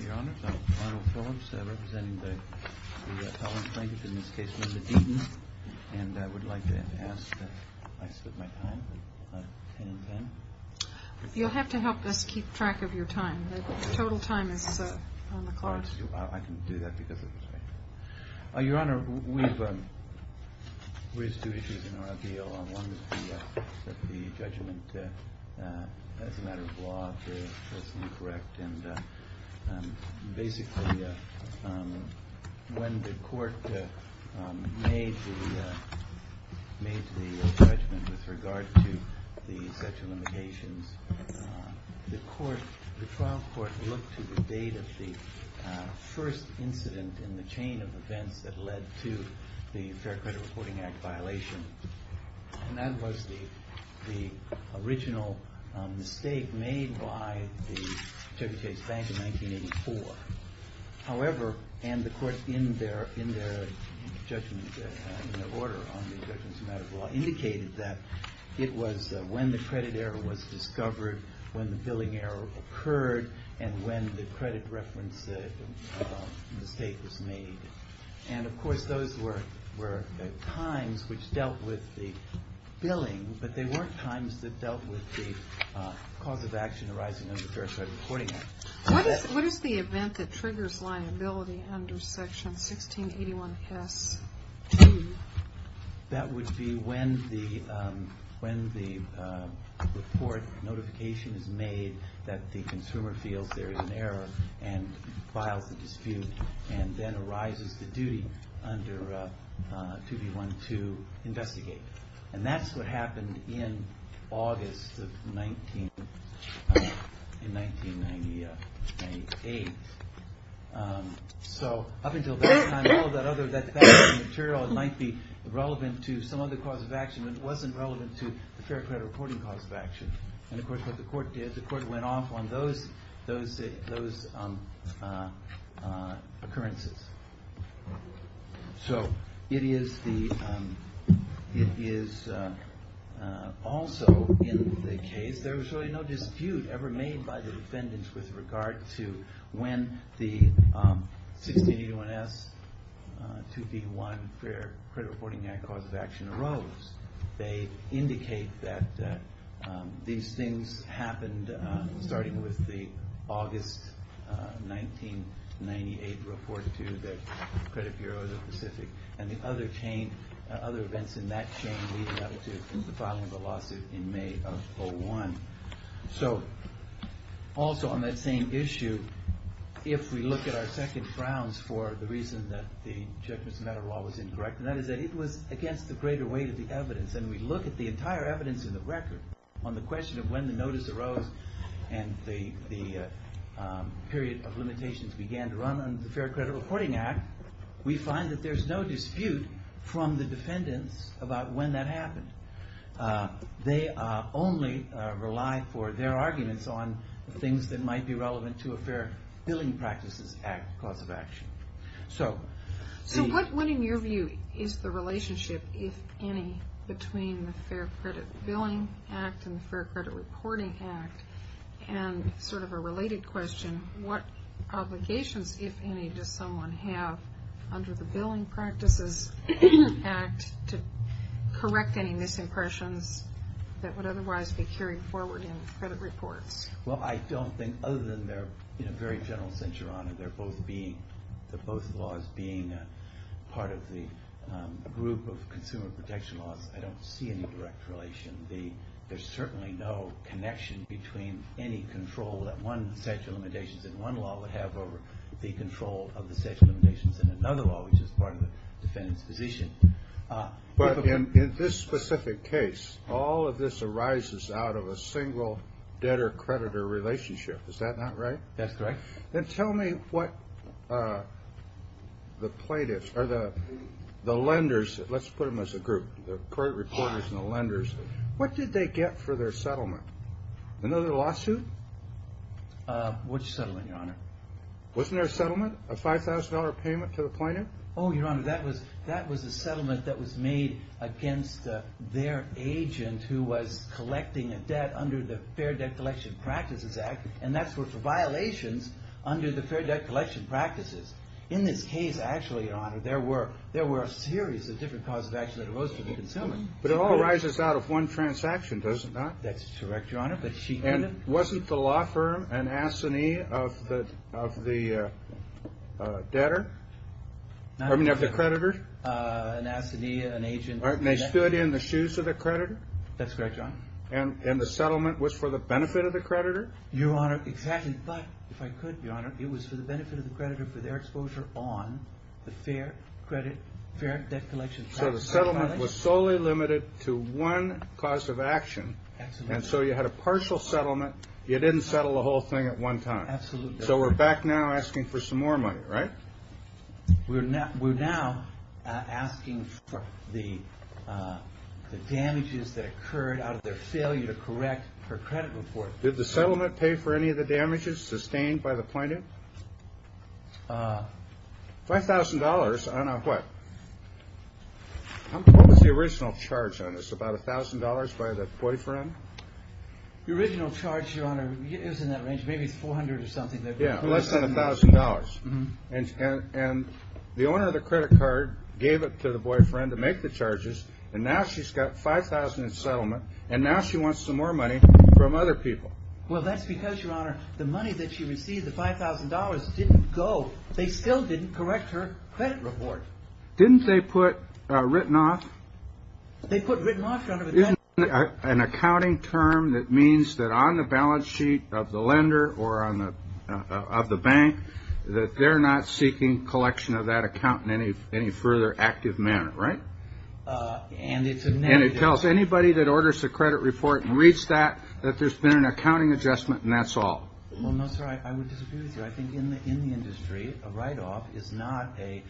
Your Honor, I'm Arnold Phillips, representing the Ellen plaintiff, in this case Mr. Deaton, and I would like to ask that I split my time by 10 and 10. You'll have to help us keep track of your time. The total time is on the clock. I can do that because it was right. Your Honor, we've raised two issues in our appeal. One is that the judgment as a matter of law is incorrect, and basically when the court made the judgment with regard to the sexual limitations, the trial court looked to the date of the first incident in the chain of events that led to the Fair Credit Reporting Act violation, and that was the original mistake made by the Chevy Chase Bank in 1984. However, and the court in their judgment, in their order on the judgment as a matter of law, indicated that it was when the credit error was discovered, when the billing error occurred, and when the credit reference mistake was made. And of course, those were times which dealt with the billing, but they weren't times that dealt with the cause of action arising under the Fair Credit Reporting Act. What is the event that triggers liability under Section 1681S2? That would be when the report notification is made that the consumer feels there is an error and files a dispute, and then arises the duty under 2B1 to investigate. And that's what happened in August of 1998. So up until that time, all that other factual material might be relevant to some other cause of action, but it wasn't relevant to the Fair Credit Reporting cause of action. And of course, what the court did, the court went off on those occurrences. So it is also in the case, there was really no dispute ever made by the defendants with regard to when the 1681S2B1 Fair Credit Reporting Act cause of action arose. They indicate that these things happened starting with the August 1998 report to the Credit Bureau of the Pacific and the other chain, other events in that chain leading up to the filing of the lawsuit in May of 2001. So also on that same issue, if we look at our second grounds for the reason that the Judgment of Matter Law was incorrect, and that is that it was against the greater weight of the evidence, and we look at the entire evidence in the record on the question of when the notice arose and the period of limitations began to run under the Fair Credit Reporting Act, we find that there's no dispute from the defendants about when that happened. They only rely for their arguments on things that might be relevant to a Fair Billing Practices Act cause of action. So what, in your view, is the relationship, if any, between the Fair Credit Billing Act and the Fair Credit Reporting Act? And sort of a related question, what obligations, if any, does someone have under the Billing Practices Act to correct any misimpressions that would otherwise be carried forward in the credit reports? Well, I don't think, other than they're in a very general sense, Your Honor, they're both laws being part of the group of consumer protection laws. I don't see any direct relation. There's certainly no connection between any control that one statute of limitations in one law would have over the control of the statute of limitations in another law, which is part of the defendant's position. But in this specific case, all of this arises out of a single debtor-creditor relationship. Is that not right? That's correct. Then tell me what the plaintiffs, or the lenders, let's put them as a group, the court reporters and the lenders, what did they get for their settlement? Another lawsuit? Which settlement, Your Honor? Wasn't there a settlement? A $5,000 payment to the plaintiff? Oh, Your Honor, that was a settlement that was made against their agent who was collecting a debt under the Fair Debt Collection Practices Act, and that's for violations under the Fair Debt Collection Practices. In this case, actually, Your Honor, there were a series of different causes of action that arose from the consumer. But it all arises out of one transaction, does it not? That's correct, Your Honor. And wasn't the law firm an assignee of the creditor? An assignee, an agent. And they stood in the shoes of the creditor? That's correct, Your Honor. And the settlement was for the benefit of the creditor? Your Honor, exactly. But, if I could, Your Honor, it was for the benefit of the creditor for their exposure on the Fair Debt Collection Practices Act. So the settlement was solely limited to one cause of action, and so you had a partial settlement. You didn't settle the whole thing at one time. Absolutely. So we're back now asking for some more money, right? We're now asking for the damages that occurred out of their failure to correct her credit report. Did the settlement pay for any of the damages sustained by the plaintiff? $5,000 on a what? What was the original charge on this? About $1,000 by the boyfriend? The original charge, Your Honor, it was in that range. Maybe it was $400 or something. Yeah, less than $1,000. And the owner of the credit card gave it to the boyfriend to make the charges, and now she's got $5,000 in settlement, and now she wants some more money from other people. Well, that's because, Your Honor, the money that she received, the $5,000, didn't go. They still didn't correct her credit report. Didn't they put written off? They put written off, Your Honor. An accounting term that means that on the balance sheet of the lender or of the bank that they're not seeking collection of that account in any further active manner, right? And it's a negative. It tells anybody that orders the credit report and reads that that there's been an accounting adjustment, and that's all. Well, no, sir, I would disagree with you. I think in the industry, a write-off is not a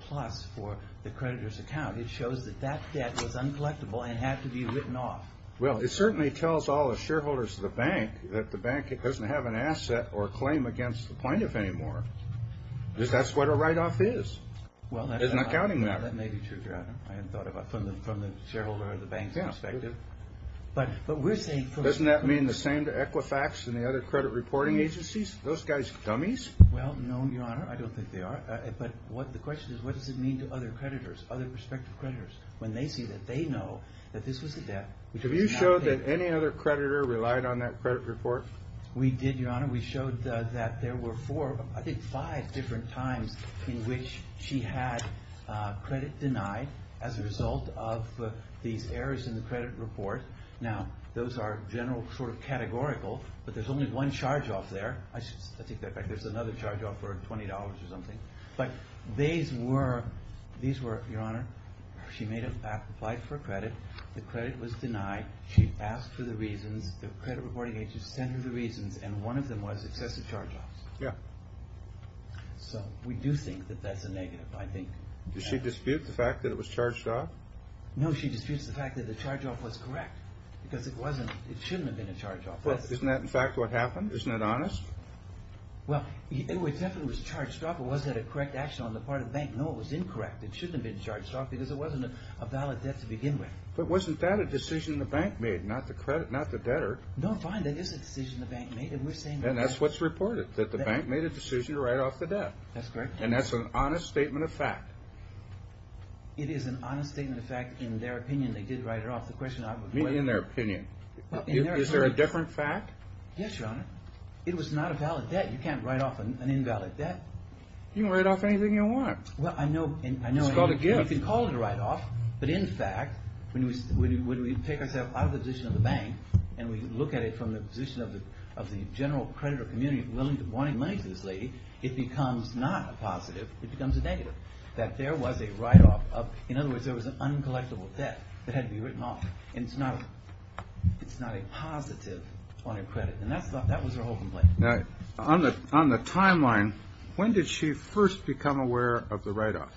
plus for the creditor's account. It shows that that debt was uncollectible and had to be written off. Well, it certainly tells all the shareholders of the bank that the bank doesn't have an asset or a claim against the plaintiff anymore. That's what a write-off is. It's an accounting matter. Well, that may be true, Your Honor, from the shareholder of the bank's perspective. Doesn't that mean the same to Equifax and the other credit reporting agencies? Are those guys dummies? Well, no, Your Honor, I don't think they are. But the question is, what does it mean to other creditors, other prospective creditors, when they see that they know that this was a debt? Did you show that any other creditor relied on that credit report? We did, Your Honor. We showed that there were four, I think five, different times in which she had credit denied as a result of these errors in the credit report. Now, those are general, sort of categorical, but there's only one charge off there. I should take that back. There's another charge off for $20 or something. But these were, Your Honor, she made a, applied for credit. The credit was denied. She asked for the reasons. The credit reporting agencies sent her the reasons, and one of them was excessive charge offs. Yeah. So we do think that that's a negative, I think. Does she dispute the fact that it was charged off? No, she disputes the fact that the charge off was correct because it wasn't, it shouldn't have been a charge off. Isn't that, in fact, what happened? Isn't that honest? Well, it definitely was charged off. It wasn't a correct action on the part of the bank. No, it was incorrect. It shouldn't have been charged off because it wasn't a valid debt to begin with. But wasn't that a decision the bank made, not the debtor? No, fine. That is a decision the bank made, and we're saying that. And that's what's reported, that the bank made a decision to write off the debt. That's correct. And that's an honest statement of fact. It is an honest statement of fact. In their opinion, they did write it off. In their opinion. Is there a different fact? Yes, Your Honor. It was not a valid debt. You can't write off an invalid debt. You can write off anything you want. It's called a gift. You can call it a write-off, but in fact, when we take ourselves out of the position of the bank and we look at it from the position of the general creditor community wanting money for this lady, it becomes not a positive. It becomes a negative, that there was a write-off. In other words, there was an uncollectible debt that had to be written off, and it's not a positive on your credit. And that was her whole complaint. Now, on the timeline, when did she first become aware of the write-off?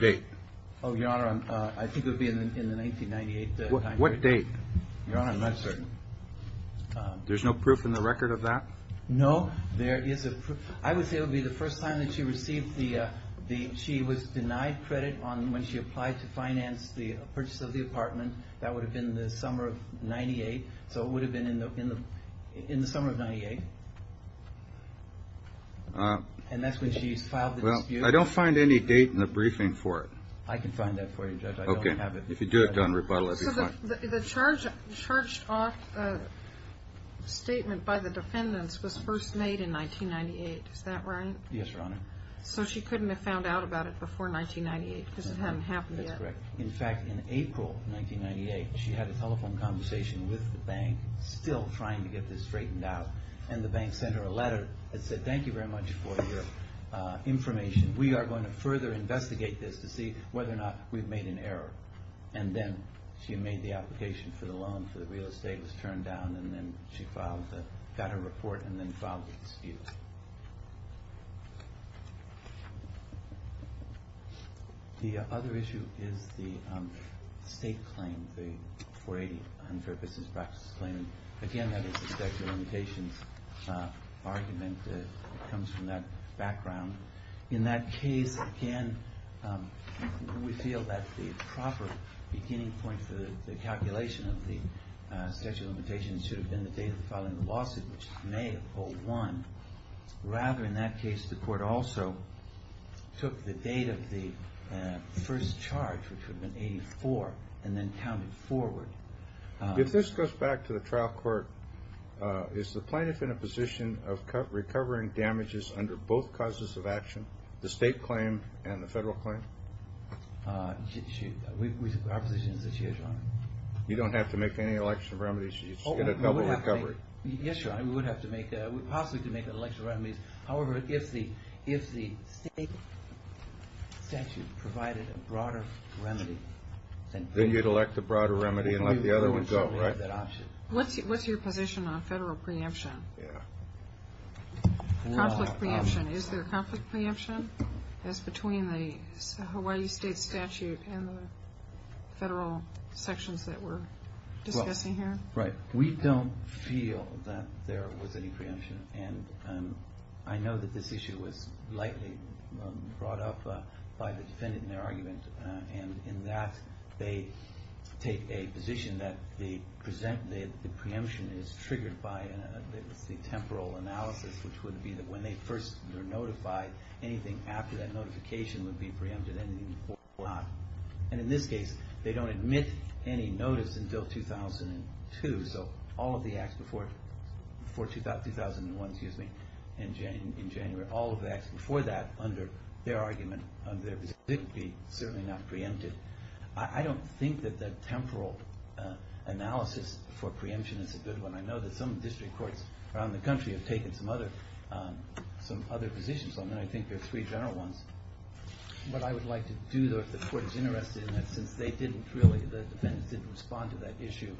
Date. Oh, Your Honor, I think it would be in the 1998 timeline. What date? Your Honor, I'm not certain. There's no proof in the record of that? No, there is a proof. I would say it would be the first time that she received the – she was denied credit when she applied to finance the purchase of the apartment. That would have been the summer of 98. So it would have been in the summer of 98. And that's when she filed the dispute. Well, I don't find any date in the briefing for it. I can find that for you, Judge. I don't have it. Okay. If you do it, don't rebuttal it. So the charged-off statement by the defendants was first made in 1998. Is that right? Yes, Your Honor. So she couldn't have found out about it before 1998 because it hadn't happened yet. That's correct. In fact, in April 1998, she had a telephone conversation with the bank, still trying to get this straightened out, and the bank sent her a letter that said, thank you very much for your information. We are going to further investigate this to see whether or not we've made an error. And then she made the application for the loan for the real estate, was turned down, and then she filed the – got her report and then filed the dispute. The other issue is the state claim, the 480, unfair business practices claim. Again, that is the statute of limitations argument that comes from that background. In that case, again, we feel that the proper beginning point for the calculation of the statute of limitations should have been the date of the filing of the lawsuit, which is May of 2001. Rather, in that case, the court also took the date of the first charge, which would have been 84, and then counted forward. If this goes back to the trial court, is the plaintiff in a position of recovering damages under both causes of action, the state claim and the federal claim? Our position is that she is, Your Honor. You don't have to make any election remedies. She's got a double recovery. Yes, Your Honor, we would have to make – possibly could make election remedies. However, if the state statute provided a broader remedy, then we would have that option. Then you'd elect a broader remedy and let the other one go, right? What's your position on federal preemption? Yeah. Conflict preemption. Is there conflict preemption as between the Hawaii state statute and the federal sections that we're discussing here? Right. We don't feel that there was any preemption, and I know that this issue was likely brought up by the defendant in their argument, and in that they take a position that the preemption is triggered by the temporal analysis, which would be that when they first are notified, anything after that notification would be preempted, and in this case, they don't admit any notice until 2002. So all of the acts before 2001, excuse me, in January, all of the acts before that under their argument, under their position, didn't be, certainly not preempted. I don't think that that temporal analysis for preemption is a good one. I know that some district courts around the country have taken some other positions on that. I think there are three general ones. What I would like to do, though, if the court is interested in that, since they didn't really, the defendants didn't respond to that issue,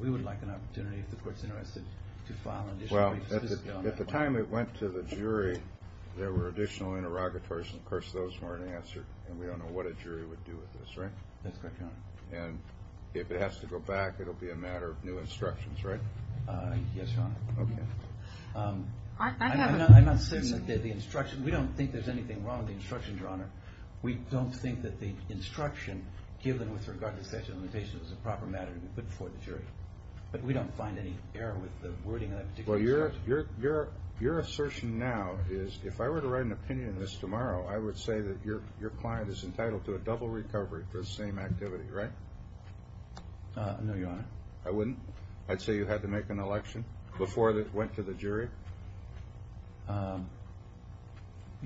we would like an opportunity, if the court is interested, to file an issue. Well, at the time it went to the jury, there were additional interrogatories, and, of course, those weren't answered, and we don't know what a jury would do with this, right? That's correct, Your Honor. And if it has to go back, it will be a matter of new instructions, right? Yes, Your Honor. Okay. I'm not certain that the instructions, we don't think there's anything wrong with the instructions, Your Honor. We don't think that the instruction given with regard to sexual intimidation is a proper matter to put before the jury. But we don't find any error with the wording of that particular instruction. Well, your assertion now is, if I were to write an opinion on this tomorrow, I would say that your client is entitled to a double recovery for the same activity, right? No, Your Honor. I wouldn't. I'd say you had to make an election before it went to the jury?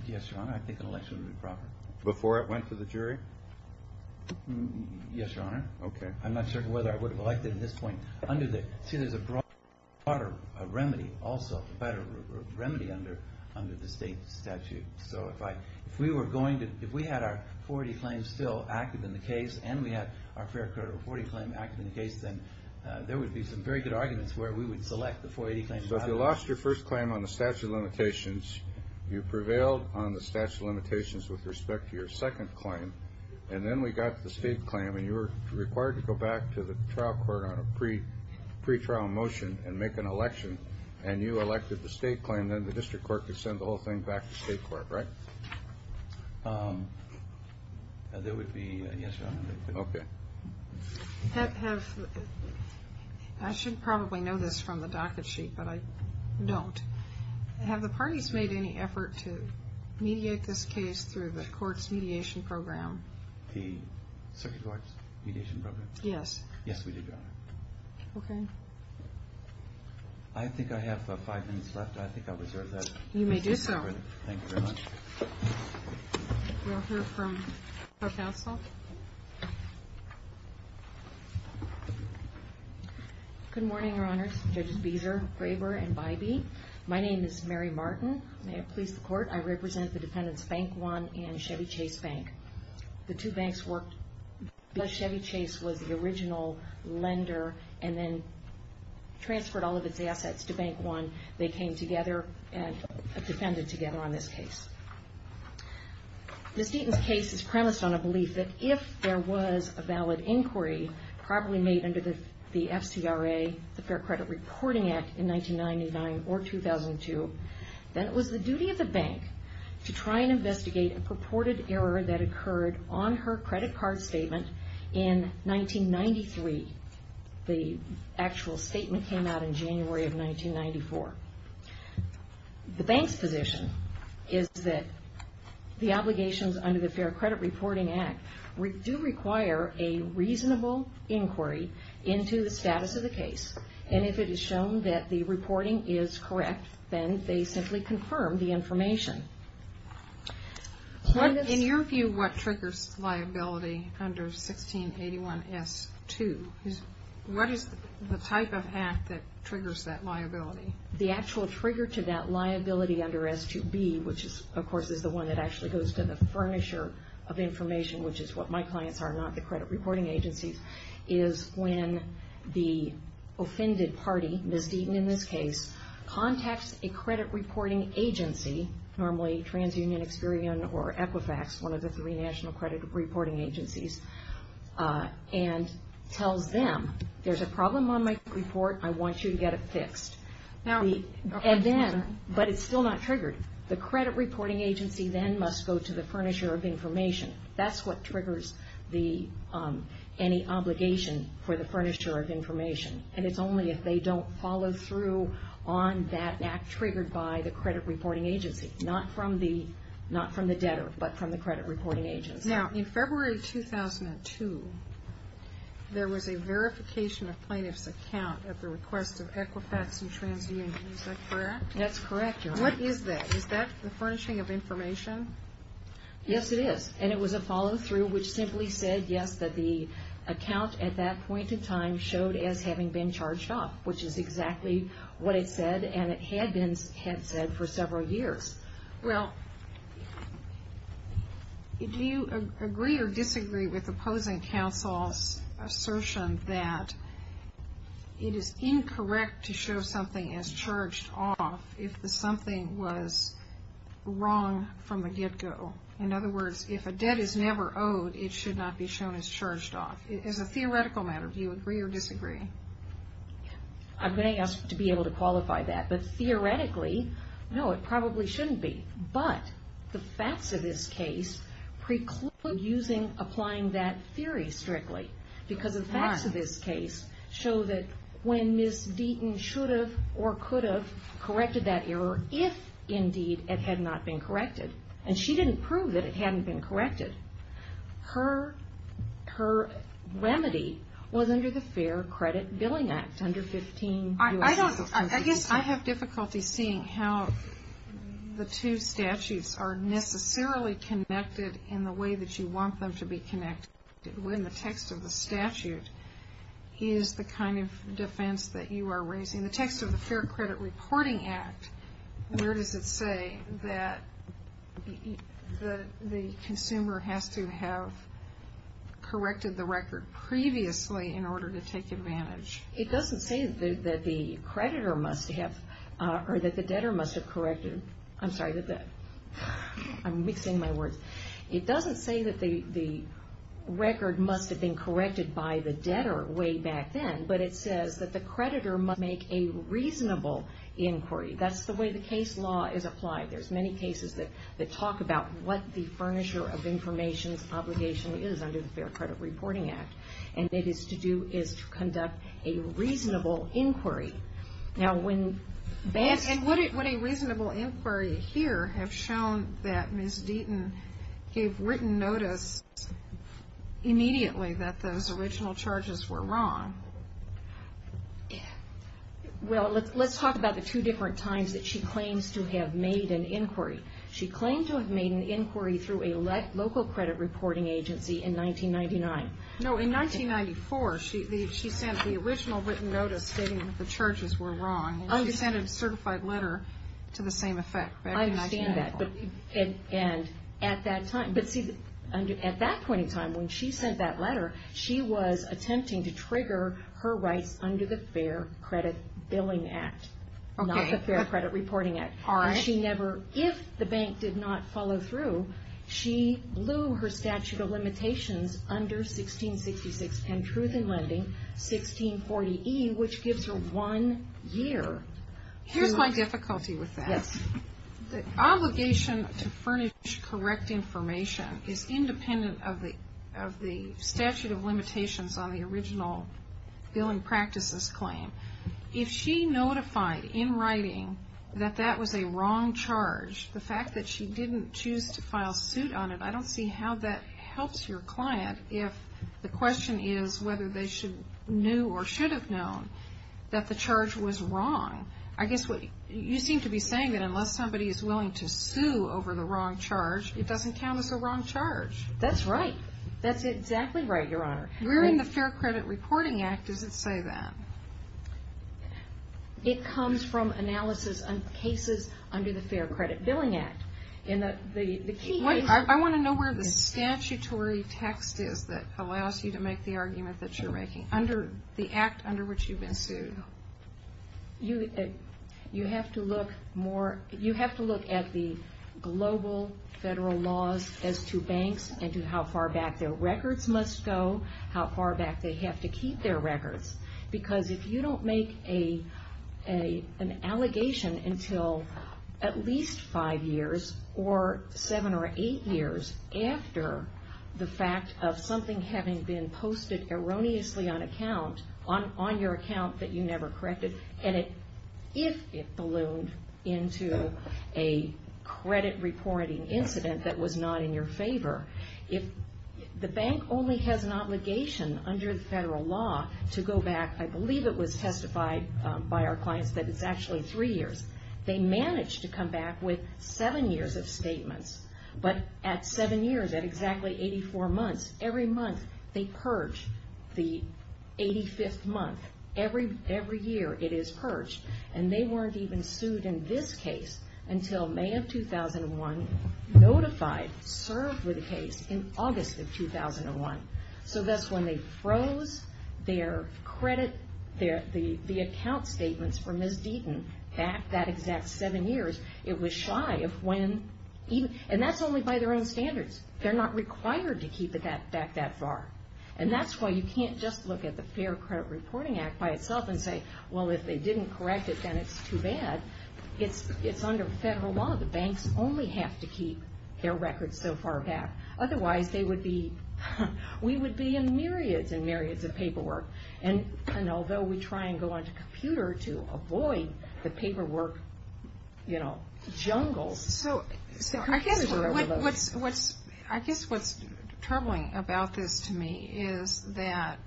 Yes, Your Honor. I think an election would be proper. Before it went to the jury? Yes, Your Honor. Okay. I'm not certain whether I would have elected at this point. See, there's a broader remedy also, a better remedy under the state statute. So if we were going to, if we had our 40 claims still active in the case and we had our fair credit or 40 claim active in the case, then there would be some very good arguments where we would select the 480 claims. So if you lost your first claim on the statute of limitations, you prevailed on the statute of limitations with respect to your second claim, and then we got the state claim, and you were required to go back to the trial court on a pretrial motion and make an election, and you elected the state claim, then the district court could send the whole thing back to state court, right? There would be, yes, Your Honor. Okay. Have, I should probably know this from the docket sheet, but I don't. Have the parties made any effort to mediate this case through the court's mediation program? The circuit court's mediation program? Yes. Yes, we did, Your Honor. Okay. I think I have five minutes left. I think I'll reserve that. You may do so. Thank you very much. We'll hear from her counsel. Good morning, Your Honors, Judges Beeser, Graber, and Bybee. My name is Mary Martin. May it please the court, I represent the defendants Bank One and Chevy Chase Bank. The two banks worked, Chevy Chase was the original lender and then transferred all of its assets to Bank One. They came together and defended together on this case. Ms. Deaton's case is premised on a belief that if there was a valid inquiry, probably made under the FCRA, the Fair Credit Reporting Act in 1999 or 2002, then it was the duty of the bank to try and investigate a purported error that occurred on her credit card statement in 1993. The actual statement came out in January of 1994. The bank's position is that the obligations under the Fair Credit Reporting Act do require a reasonable inquiry into the status of the case, and if it is shown that the reporting is correct, then they simply confirm the information. In your view, what triggers liability under 1681S2? What is the type of hack that triggers that liability? The actual trigger to that liability under S2B, which of course is the one that actually goes to the furnisher of information, which is what my clients are, not the credit reporting agencies, is when the offended party, Ms. Deaton in this case, contacts a credit reporting agency, normally TransUnion, Experian, or Equifax, one of the three national credit reporting agencies, and tells them there's a problem on my report, I want you to get it fixed. But it's still not triggered. The credit reporting agency then must go to the furnisher of information. That's what triggers any obligation for the furnisher of information, and it's only if they don't follow through on that act triggered by the credit reporting agency, not from the debtor, but from the credit reporting agency. Now, in February 2002, there was a verification of plaintiff's account at the request of Equifax and TransUnion, is that correct? That's correct, Your Honor. What is that? Is that the furnishing of information? Yes, it is, and it was a follow through, which simply said, yes, that the account at that point in time showed as having been charged off, which is exactly what it said, and it had been said for several years. Well, do you agree or disagree with opposing counsel's assertion that it is incorrect to show something as charged off if something was wrong from the get-go? In other words, if a debt is never owed, it should not be shown as charged off. As a theoretical matter, do you agree or disagree? I'm going to ask to be able to qualify that, but theoretically, no, it probably shouldn't be. But the facts of this case preclude applying that theory strictly, because the facts of this case show that when Ms. Deaton should have or could have corrected that error if indeed it had not been corrected, and she didn't prove that it hadn't been corrected, her remedy was under the Fair Credit Billing Act under 15 U.S.C. I guess I have difficulty seeing how the two statutes are necessarily connected in the way that you want them to be connected when the text of the statute is the kind of defense that you are raising. The text of the Fair Credit Reporting Act, where does it say that the consumer has to have corrected the record previously in order to take advantage? It doesn't say that the creditor must have, or that the debtor must have corrected. I'm sorry, I'm mixing my words. It doesn't say that the record must have been corrected by the debtor way back then, but it says that the creditor must make a reasonable inquiry. That's the way the case law is applied. There's many cases that talk about what the furnisher of information's obligation is under the Fair Credit Reporting Act, and what it is to do is to conduct a reasonable inquiry. Now when that's... And would a reasonable inquiry here have shown that Ms. Deaton gave written notice immediately that those original charges were wrong? Well, let's talk about the two different times that she claims to have made an inquiry. She claimed to have made an inquiry through a local credit reporting agency in 1999. No, in 1994, she sent the original written notice stating that the charges were wrong, and she sent a certified letter to the same effect. I understand that, but at that point in time when she sent that letter, she was attempting to trigger her rights under the Fair Credit Billing Act, not the Fair Credit Reporting Act. If the bank did not follow through, she blew her statute of limitations under 166610 Truth in Lending, 1640E, which gives her one year. Here's my difficulty with that. The obligation to furnish correct information is independent of the statute of limitations on the original billing practices claim. If she notified in writing that that was a wrong charge, the fact that she didn't choose to file suit on it, I don't see how that helps your client if the question is whether they knew or should have known that the charge was wrong. You seem to be saying that unless somebody is willing to sue over the wrong charge, it doesn't count as a wrong charge. That's right. That's exactly right, Your Honor. Where in the Fair Credit Reporting Act does it say that? It comes from analysis of cases under the Fair Credit Billing Act. I want to know where the statutory text is that allows you to make the argument that you're making, the act under which you've been sued. You have to look at the global federal laws as to banks and to how far back their records must go, how far back they have to keep their records. Because if you don't make an allegation until at least five years or seven or eight years after the fact of something having been posted erroneously on your account that you never corrected, and if it ballooned into a credit reporting incident that was not in your favor, if the bank only has an obligation under the federal law to go back, I believe it was testified by our clients that it's actually three years, they manage to come back with seven years of statements. But at seven years, at exactly 84 months, every month they purge the 85th month. Every year it is purged. And they weren't even sued in this case until May of 2001, notified, served with the case in August of 2001. So that's when they froze their credit, the account statements for Ms. Deaton back that exact seven years. It was shy of when, and that's only by their own standards. They're not required to keep it back that far. And that's why you can't just look at the Fair Credit Reporting Act by itself and say, well, if they didn't correct it, then it's too bad. It's under federal law. The banks only have to keep their records so far back. Otherwise, we would be in myriads and myriads of paperwork. And although we try and go on to computer to avoid the paperwork, you know, I guess what's troubling about this to me is that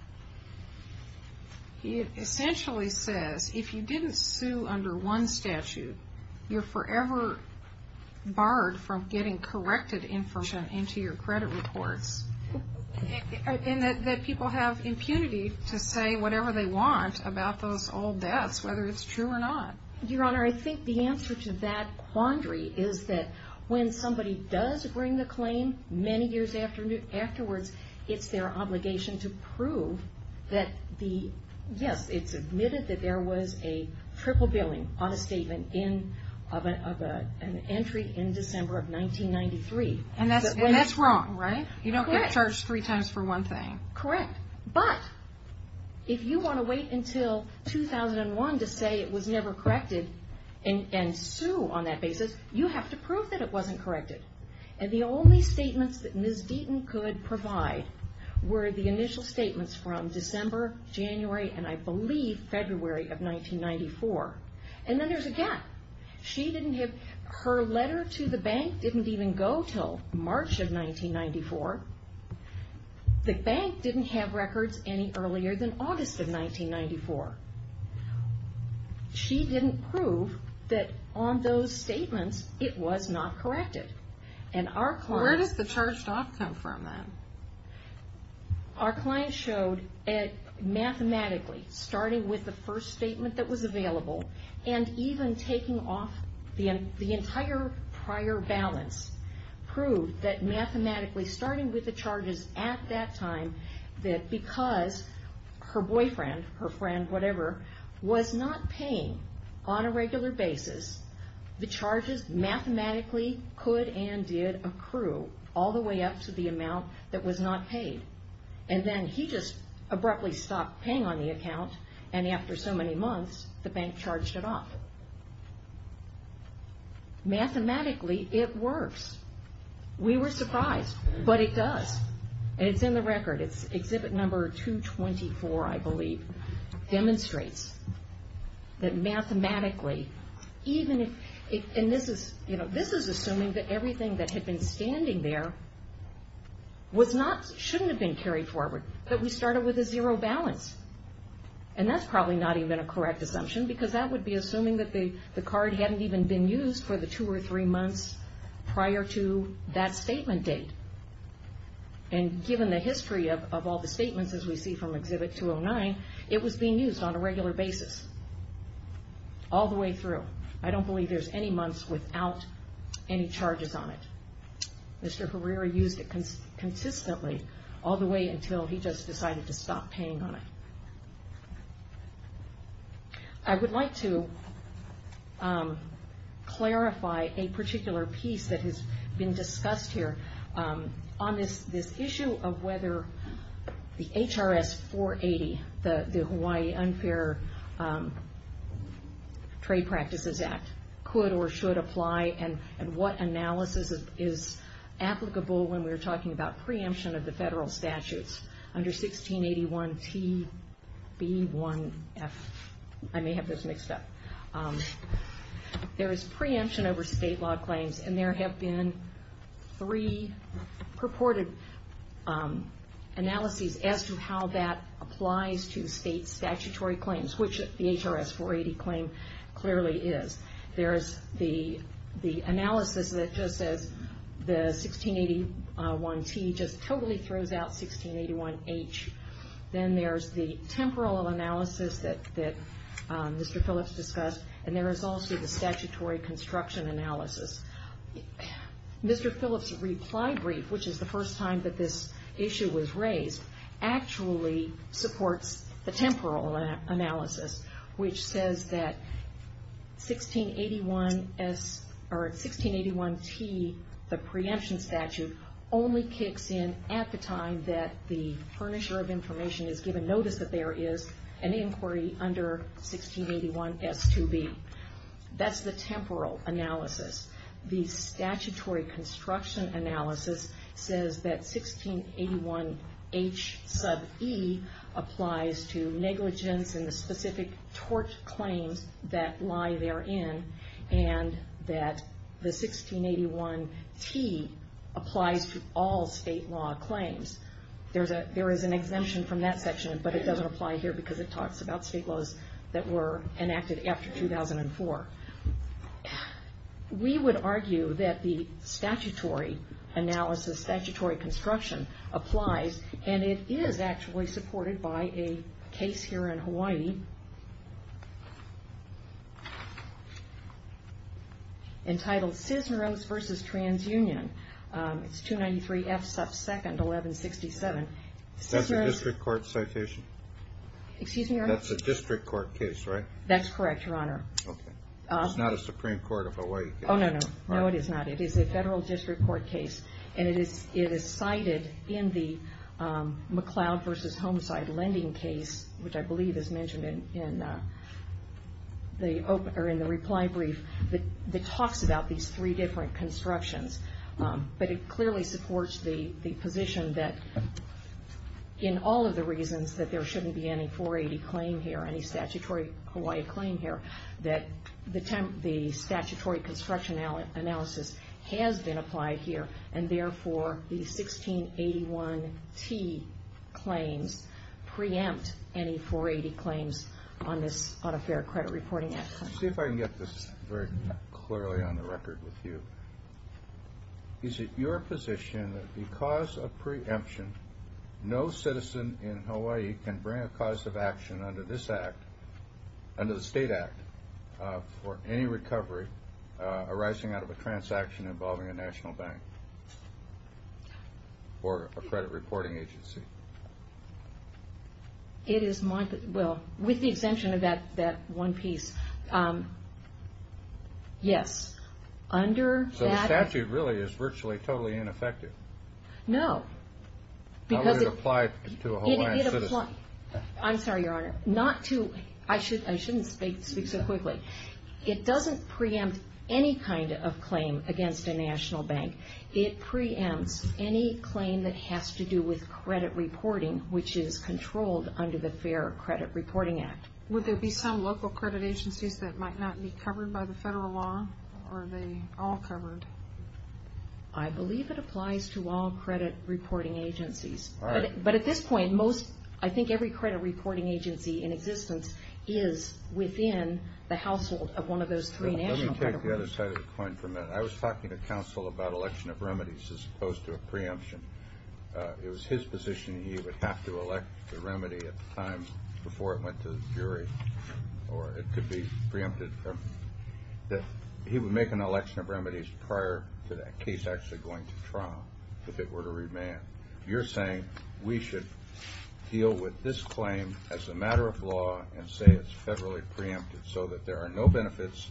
it essentially says if you didn't sue under one statute, you're forever barred from getting corrected information into your credit reports. And that people have impunity to say whatever they want about those old debts, whether it's true or not. Your Honor, I think the answer to that quandary is that when somebody does bring the claim many years afterwards, it's their obligation to prove that the, yes, it's admitted that there was a triple billing on a statement of an entry in December of 1993. And that's wrong, right? You don't get charged three times for one thing. Correct. But if you want to wait until 2001 to say it was never corrected and sue on that basis, you have to prove that it wasn't corrected. And the only statements that Ms. Deaton could provide were the initial statements from December, January, and I believe February of 1994. And then there's a gap. She didn't have, her letter to the bank didn't even go until March of 1994. The bank didn't have records any earlier than August of 1994. She didn't prove that on those statements it was not corrected. Where does the charged off come from then? Our client showed mathematically, starting with the first statement that was available and even taking off the entire prior balance, proved that mathematically, starting with the charges at that time, that because her boyfriend, her friend, whatever, was not paying on a regular basis, the charges mathematically could and did accrue all the way up to the amount that was not paid. And then he just abruptly stopped paying on the account, and after so many months, the bank charged it off. Mathematically, it works. We were surprised, but it does. And it's in the record. Exhibit number 224, I believe, demonstrates that mathematically, even if, and this is assuming that everything that had been standing there shouldn't have been carried forward, but we started with a zero balance. And that's probably not even a correct assumption, because that would be assuming that the card hadn't even been used for the two or three months prior to that statement date. And given the history of all the statements, as we see from exhibit 209, it was being used on a regular basis, all the way through. I don't believe there's any months without any charges on it. Mr. Herrera used it consistently, all the way until he just decided to stop paying on it. I would like to clarify a particular piece that has been discussed here. On this issue of whether the HRS 480, the Hawaii Unfair Trade Practices Act, could or should apply, and what analysis is applicable when we're talking about preemption of the federal statutes under 1681 TB1F. I may have this mixed up. There is preemption over state law claims, and there have been three purported analyses as to how that applies to state statutory claims, which the HRS 480 claim clearly is. There's the analysis that just says the 1681T just totally throws out 1681H. Then there's the temporal analysis that Mr. Phillips discussed, and there is also the statutory construction analysis Mr. Phillips' reply brief, which is the first time that this issue was raised, actually supports the temporal analysis, which says that 1681T, the preemption statute, only kicks in at the time that the furnisher of information has given notice that there is an inquiry under 1681S2B. That's the temporal analysis. The statutory construction analysis says that 1681H sub E applies to negligence and the specific tort claims that lie therein, and that the 1681T applies to all state law claims. There is an exemption from that section, but it doesn't apply here because it talks about state laws that were enacted after 2004. We would argue that the statutory analysis, statutory construction applies, and it is actually supported by a case here in Hawaii entitled Cisneros versus TransUnion. It's 293F sub 2nd, 1167. That's a district court citation? Excuse me, Your Honor. That's a district court case, right? That's correct, Your Honor. It's not a Supreme Court of Hawaii case. No, it is not. It is a federal district court case, and it is cited in the McLeod versus Homicide Lending case, which I believe is mentioned in the reply brief that talks about these three different constructions, but it clearly supports the position that in all of the reasons that there shouldn't be any 480 claim here, any statutory Hawaii claim here, that the statutory construction analysis has been applied here, and therefore the 1681T claims preempt any 480 claims on a fair credit reporting act claim. Let me see if I can get this very clearly on the record with you. Is it your position that because of preemption, no citizen in Hawaii can bring a cause of action under this act, under the state act, for any recovery arising out of a transaction involving a national bank or a credit reporting agency? Well, with the exemption of that one piece, yes. So the statute really is virtually totally ineffective? No. How would it apply to a Hawaiian citizen? I'm sorry, Your Honor. I shouldn't speak so quickly. It doesn't preempt any kind of claim against a national bank. It preempts any claim that has to do with credit reporting, which is controlled under the Fair Credit Reporting Act. Would there be some local credit agencies that might not be covered by the federal law, or are they all covered? I believe it applies to all credit reporting agencies. But at this point, I think every credit reporting agency in existence is within the household of one of those three national credit agencies. Let me take the other side of the coin for a minute. I was talking to counsel about election of remedies as opposed to a preemption. It was his position he would have to elect the remedy at the time before it went to the jury, or it could be preempted. He would make an election of remedies prior to that case actually going to trial if it were to remand. You're saying we should deal with this claim as a matter of law and say it's federally preempted so that there are no benefits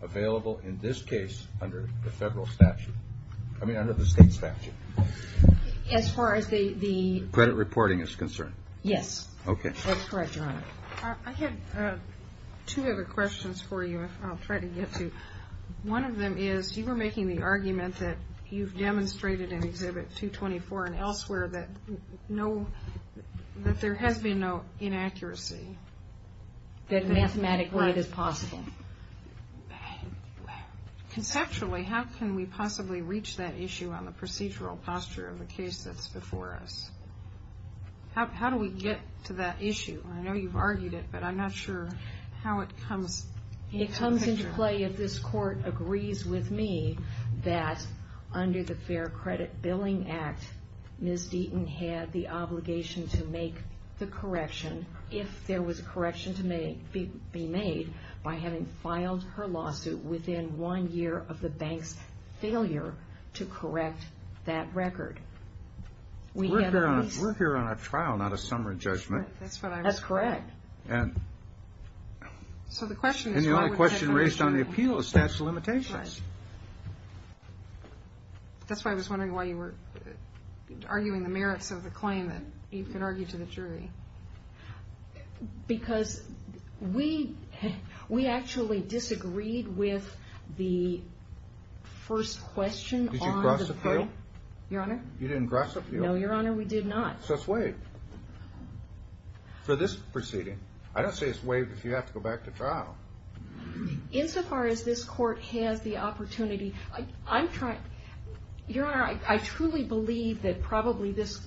available in this case under the federal statute. I mean, under the state statute. As far as the... Credit reporting is concerned. Yes. Okay. That's correct, Your Honor. I have two other questions for you, and I'll try to get to. One of them is you were making the argument that you've demonstrated in Exhibit 224 and elsewhere that there has been no inaccuracy. That mathematically it is possible. Conceptually, how can we possibly reach that issue on the procedural posture of the case that's before us? How do we get to that issue? I know you've argued it, but I'm not sure how it comes into the picture. It comes into play if this Court agrees with me that under the Fair Credit Billing Act, Ms. Deaton had the obligation to make the correction if there was a correction to be made by having filed her lawsuit within one year of the bank's failure to correct that record. We're here on a trial, not a summary judgment. That's correct. And the only question raised on the appeal is statute of limitations. That's why I was wondering why you were arguing the merits of the claim that you could argue to the jury. Because we actually disagreed with the first question on the protocol. Did you cross the field? Your Honor? You didn't cross the field? No, Your Honor, we did not. So it's waived for this proceeding. I don't say it's waived if you have to go back to trial. Insofar as this Court has the opportunity, Your Honor, I truly believe that probably this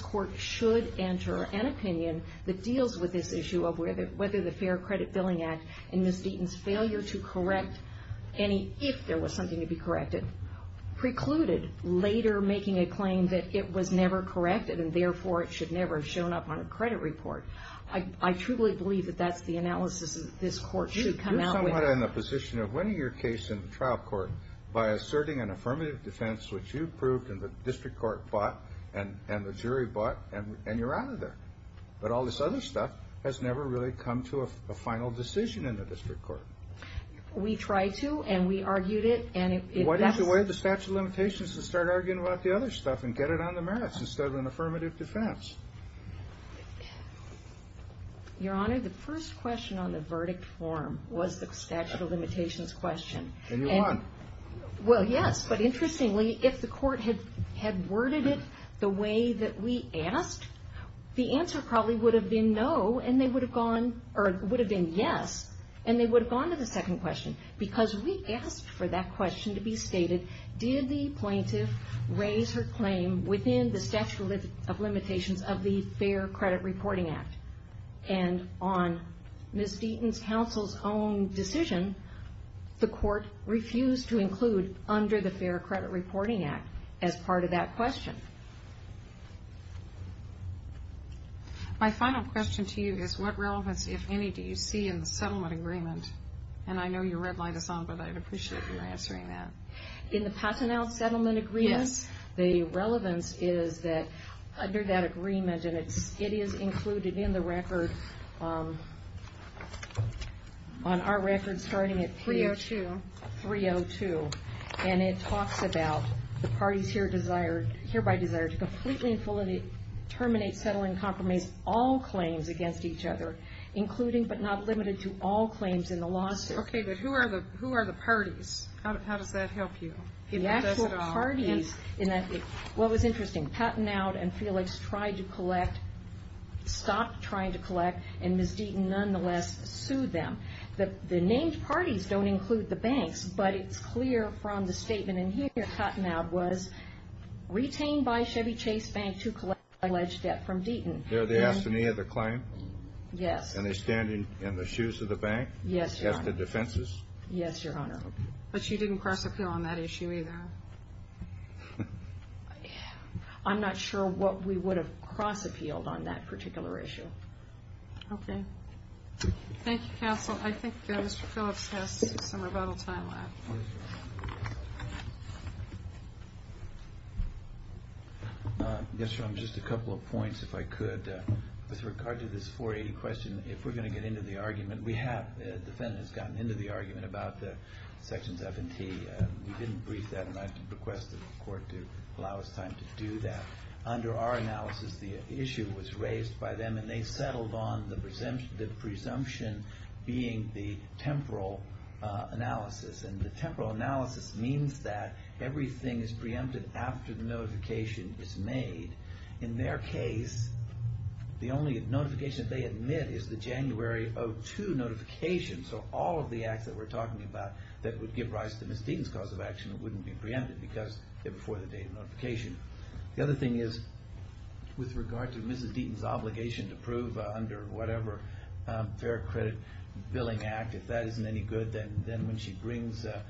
Court should enter an opinion that deals with this issue of whether the Fair Credit Billing Act and Ms. Deaton's failure to correct any if there was something to be corrected precluded later making a claim that it was never corrected and therefore it should never have shown up on a credit report. I truly believe that that's the analysis that this Court should come out with. You're somewhat in a position of winning your case in the trial court by asserting an affirmative defense which you proved and the district court bought and the jury bought and you're out of there. But all this other stuff has never really come to a final decision in the district court. We tried to and we argued it. What is the way the statute of limitations to start arguing about the other stuff and get it on the merits instead of an affirmative defense? Your Honor, the first question on the verdict form was the statute of limitations question. And you won. Well, yes. But interestingly, if the Court had worded it the way that we asked, the answer probably would have been no and they would have gone or would have been yes and they would have gone to the second question because we asked for that question to be stated, did the plaintiff raise her claim within the statute of limitations of the Fair Credit Reporting Act? And on Ms. Deaton's counsel's own decision, the Court refused to include under the Fair Credit Reporting Act as part of that question. My final question to you is what relevance, if any, do you see in the settlement agreement? And I know you're red-lined us on, but I'd appreciate your answering that. In the Paternal Settlement Agreement? Yes. The relevance is that under that agreement, and it is included in the record, on our record starting at page 302, and it talks about the parties hereby desire to completely and fully terminate, settle, and compromise all claims against each other, including but not limited to all claims in the lawsuit. Okay, but who are the parties? How does that help you? The actual parties, what was interesting, Cottenow and Felix tried to collect, stopped trying to collect, and Ms. Deaton nonetheless sued them. The named parties don't include the banks, but it's clear from the statement in here that Cottenow was retained by Chevy Chase Bank to collect alleged debt from Deaton. They asked for any other claim? Yes. And they stand in the shoes of the bank? Yes, Your Honor. As to defenses? Yes, Your Honor. But you didn't cross-appeal on that issue either? I'm not sure what we would have cross-appealed on that particular issue. Okay. Thank you, Counsel. I think Mr. Phillips has some rebuttal time left. Yes, Your Honor. Yes, Your Honor, just a couple of points if I could. With regard to this 480 question, if we're going to get into the argument, we have, the defendant has gotten into the argument about the sections F and T. We didn't brief that, and I requested the court to allow us time to do that. Under our analysis, the issue was raised by them, and they settled on the presumption being the temporal analysis. And the temporal analysis means that everything is preempted after the notification is made. In their case, the only notification they admit is the January of 2002 notification, so all of the acts that we're talking about that would give rise to Ms. Deaton's cause of action wouldn't be preempted because they're before the date of notification. The other thing is, with regard to Ms. Deaton's obligation to prove under whatever Fair Credit Billing Act, if that isn't any good, then when she brings a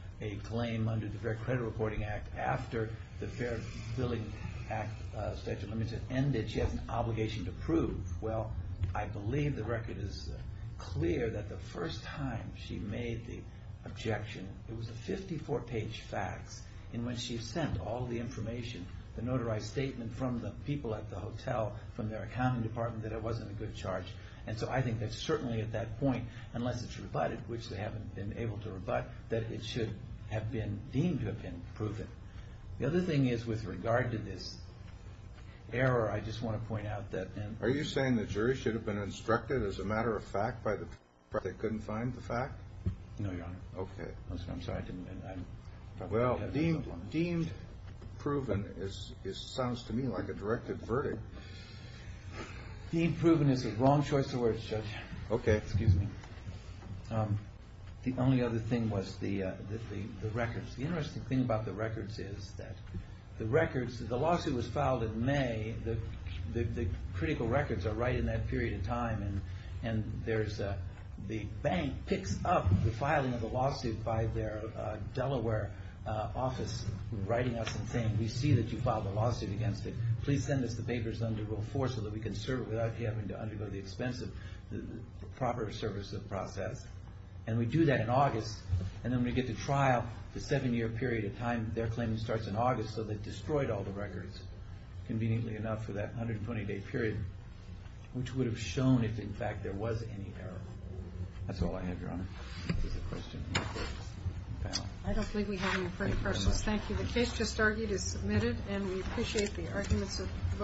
claim under the Fair Credit Reporting Act after the Fair Billing Act statute limits have ended, she has an obligation to prove. Well, I believe the record is clear that the first time she made the objection, it was a 54-page fax in which she sent all the information, the notarized statement from the people at the hotel, from their accounting department, that it wasn't a good charge. And so I think that certainly at that point, unless it's rebutted, which they haven't been able to rebut, that it should have been deemed to have been proven. The other thing is, with regard to this error, I just want to point out that... Are you saying the jury should have been instructed as a matter of fact by the fact they couldn't find the fact? No, Your Honor. Okay. I'm sorry, I didn't... Well, deemed proven sounds to me like a directed verdict. Deemed proven is the wrong choice of words, Judge. Okay. Excuse me. The only other thing was the records. The interesting thing about the records is that the records, the lawsuit was filed in May, the critical records are right in that period of time, and the bank picks up the filing of the lawsuit by their Delaware office, writing us and saying, we see that you filed a lawsuit against it, please send us the papers under Rule 4 so that we can serve it without you having to undergo the expensive proper service process. And we do that in August, and then we get to trial, the seven-year period of time their claim starts in August, so they've destroyed all the records, conveniently enough, for that 120-day period, which would have shown, if in fact there was any error. That's all I have, Your Honor. This is a question for the panel. I don't think we have any further questions. Thank you. The case just argued is submitted, and we appreciate the arguments of both parties.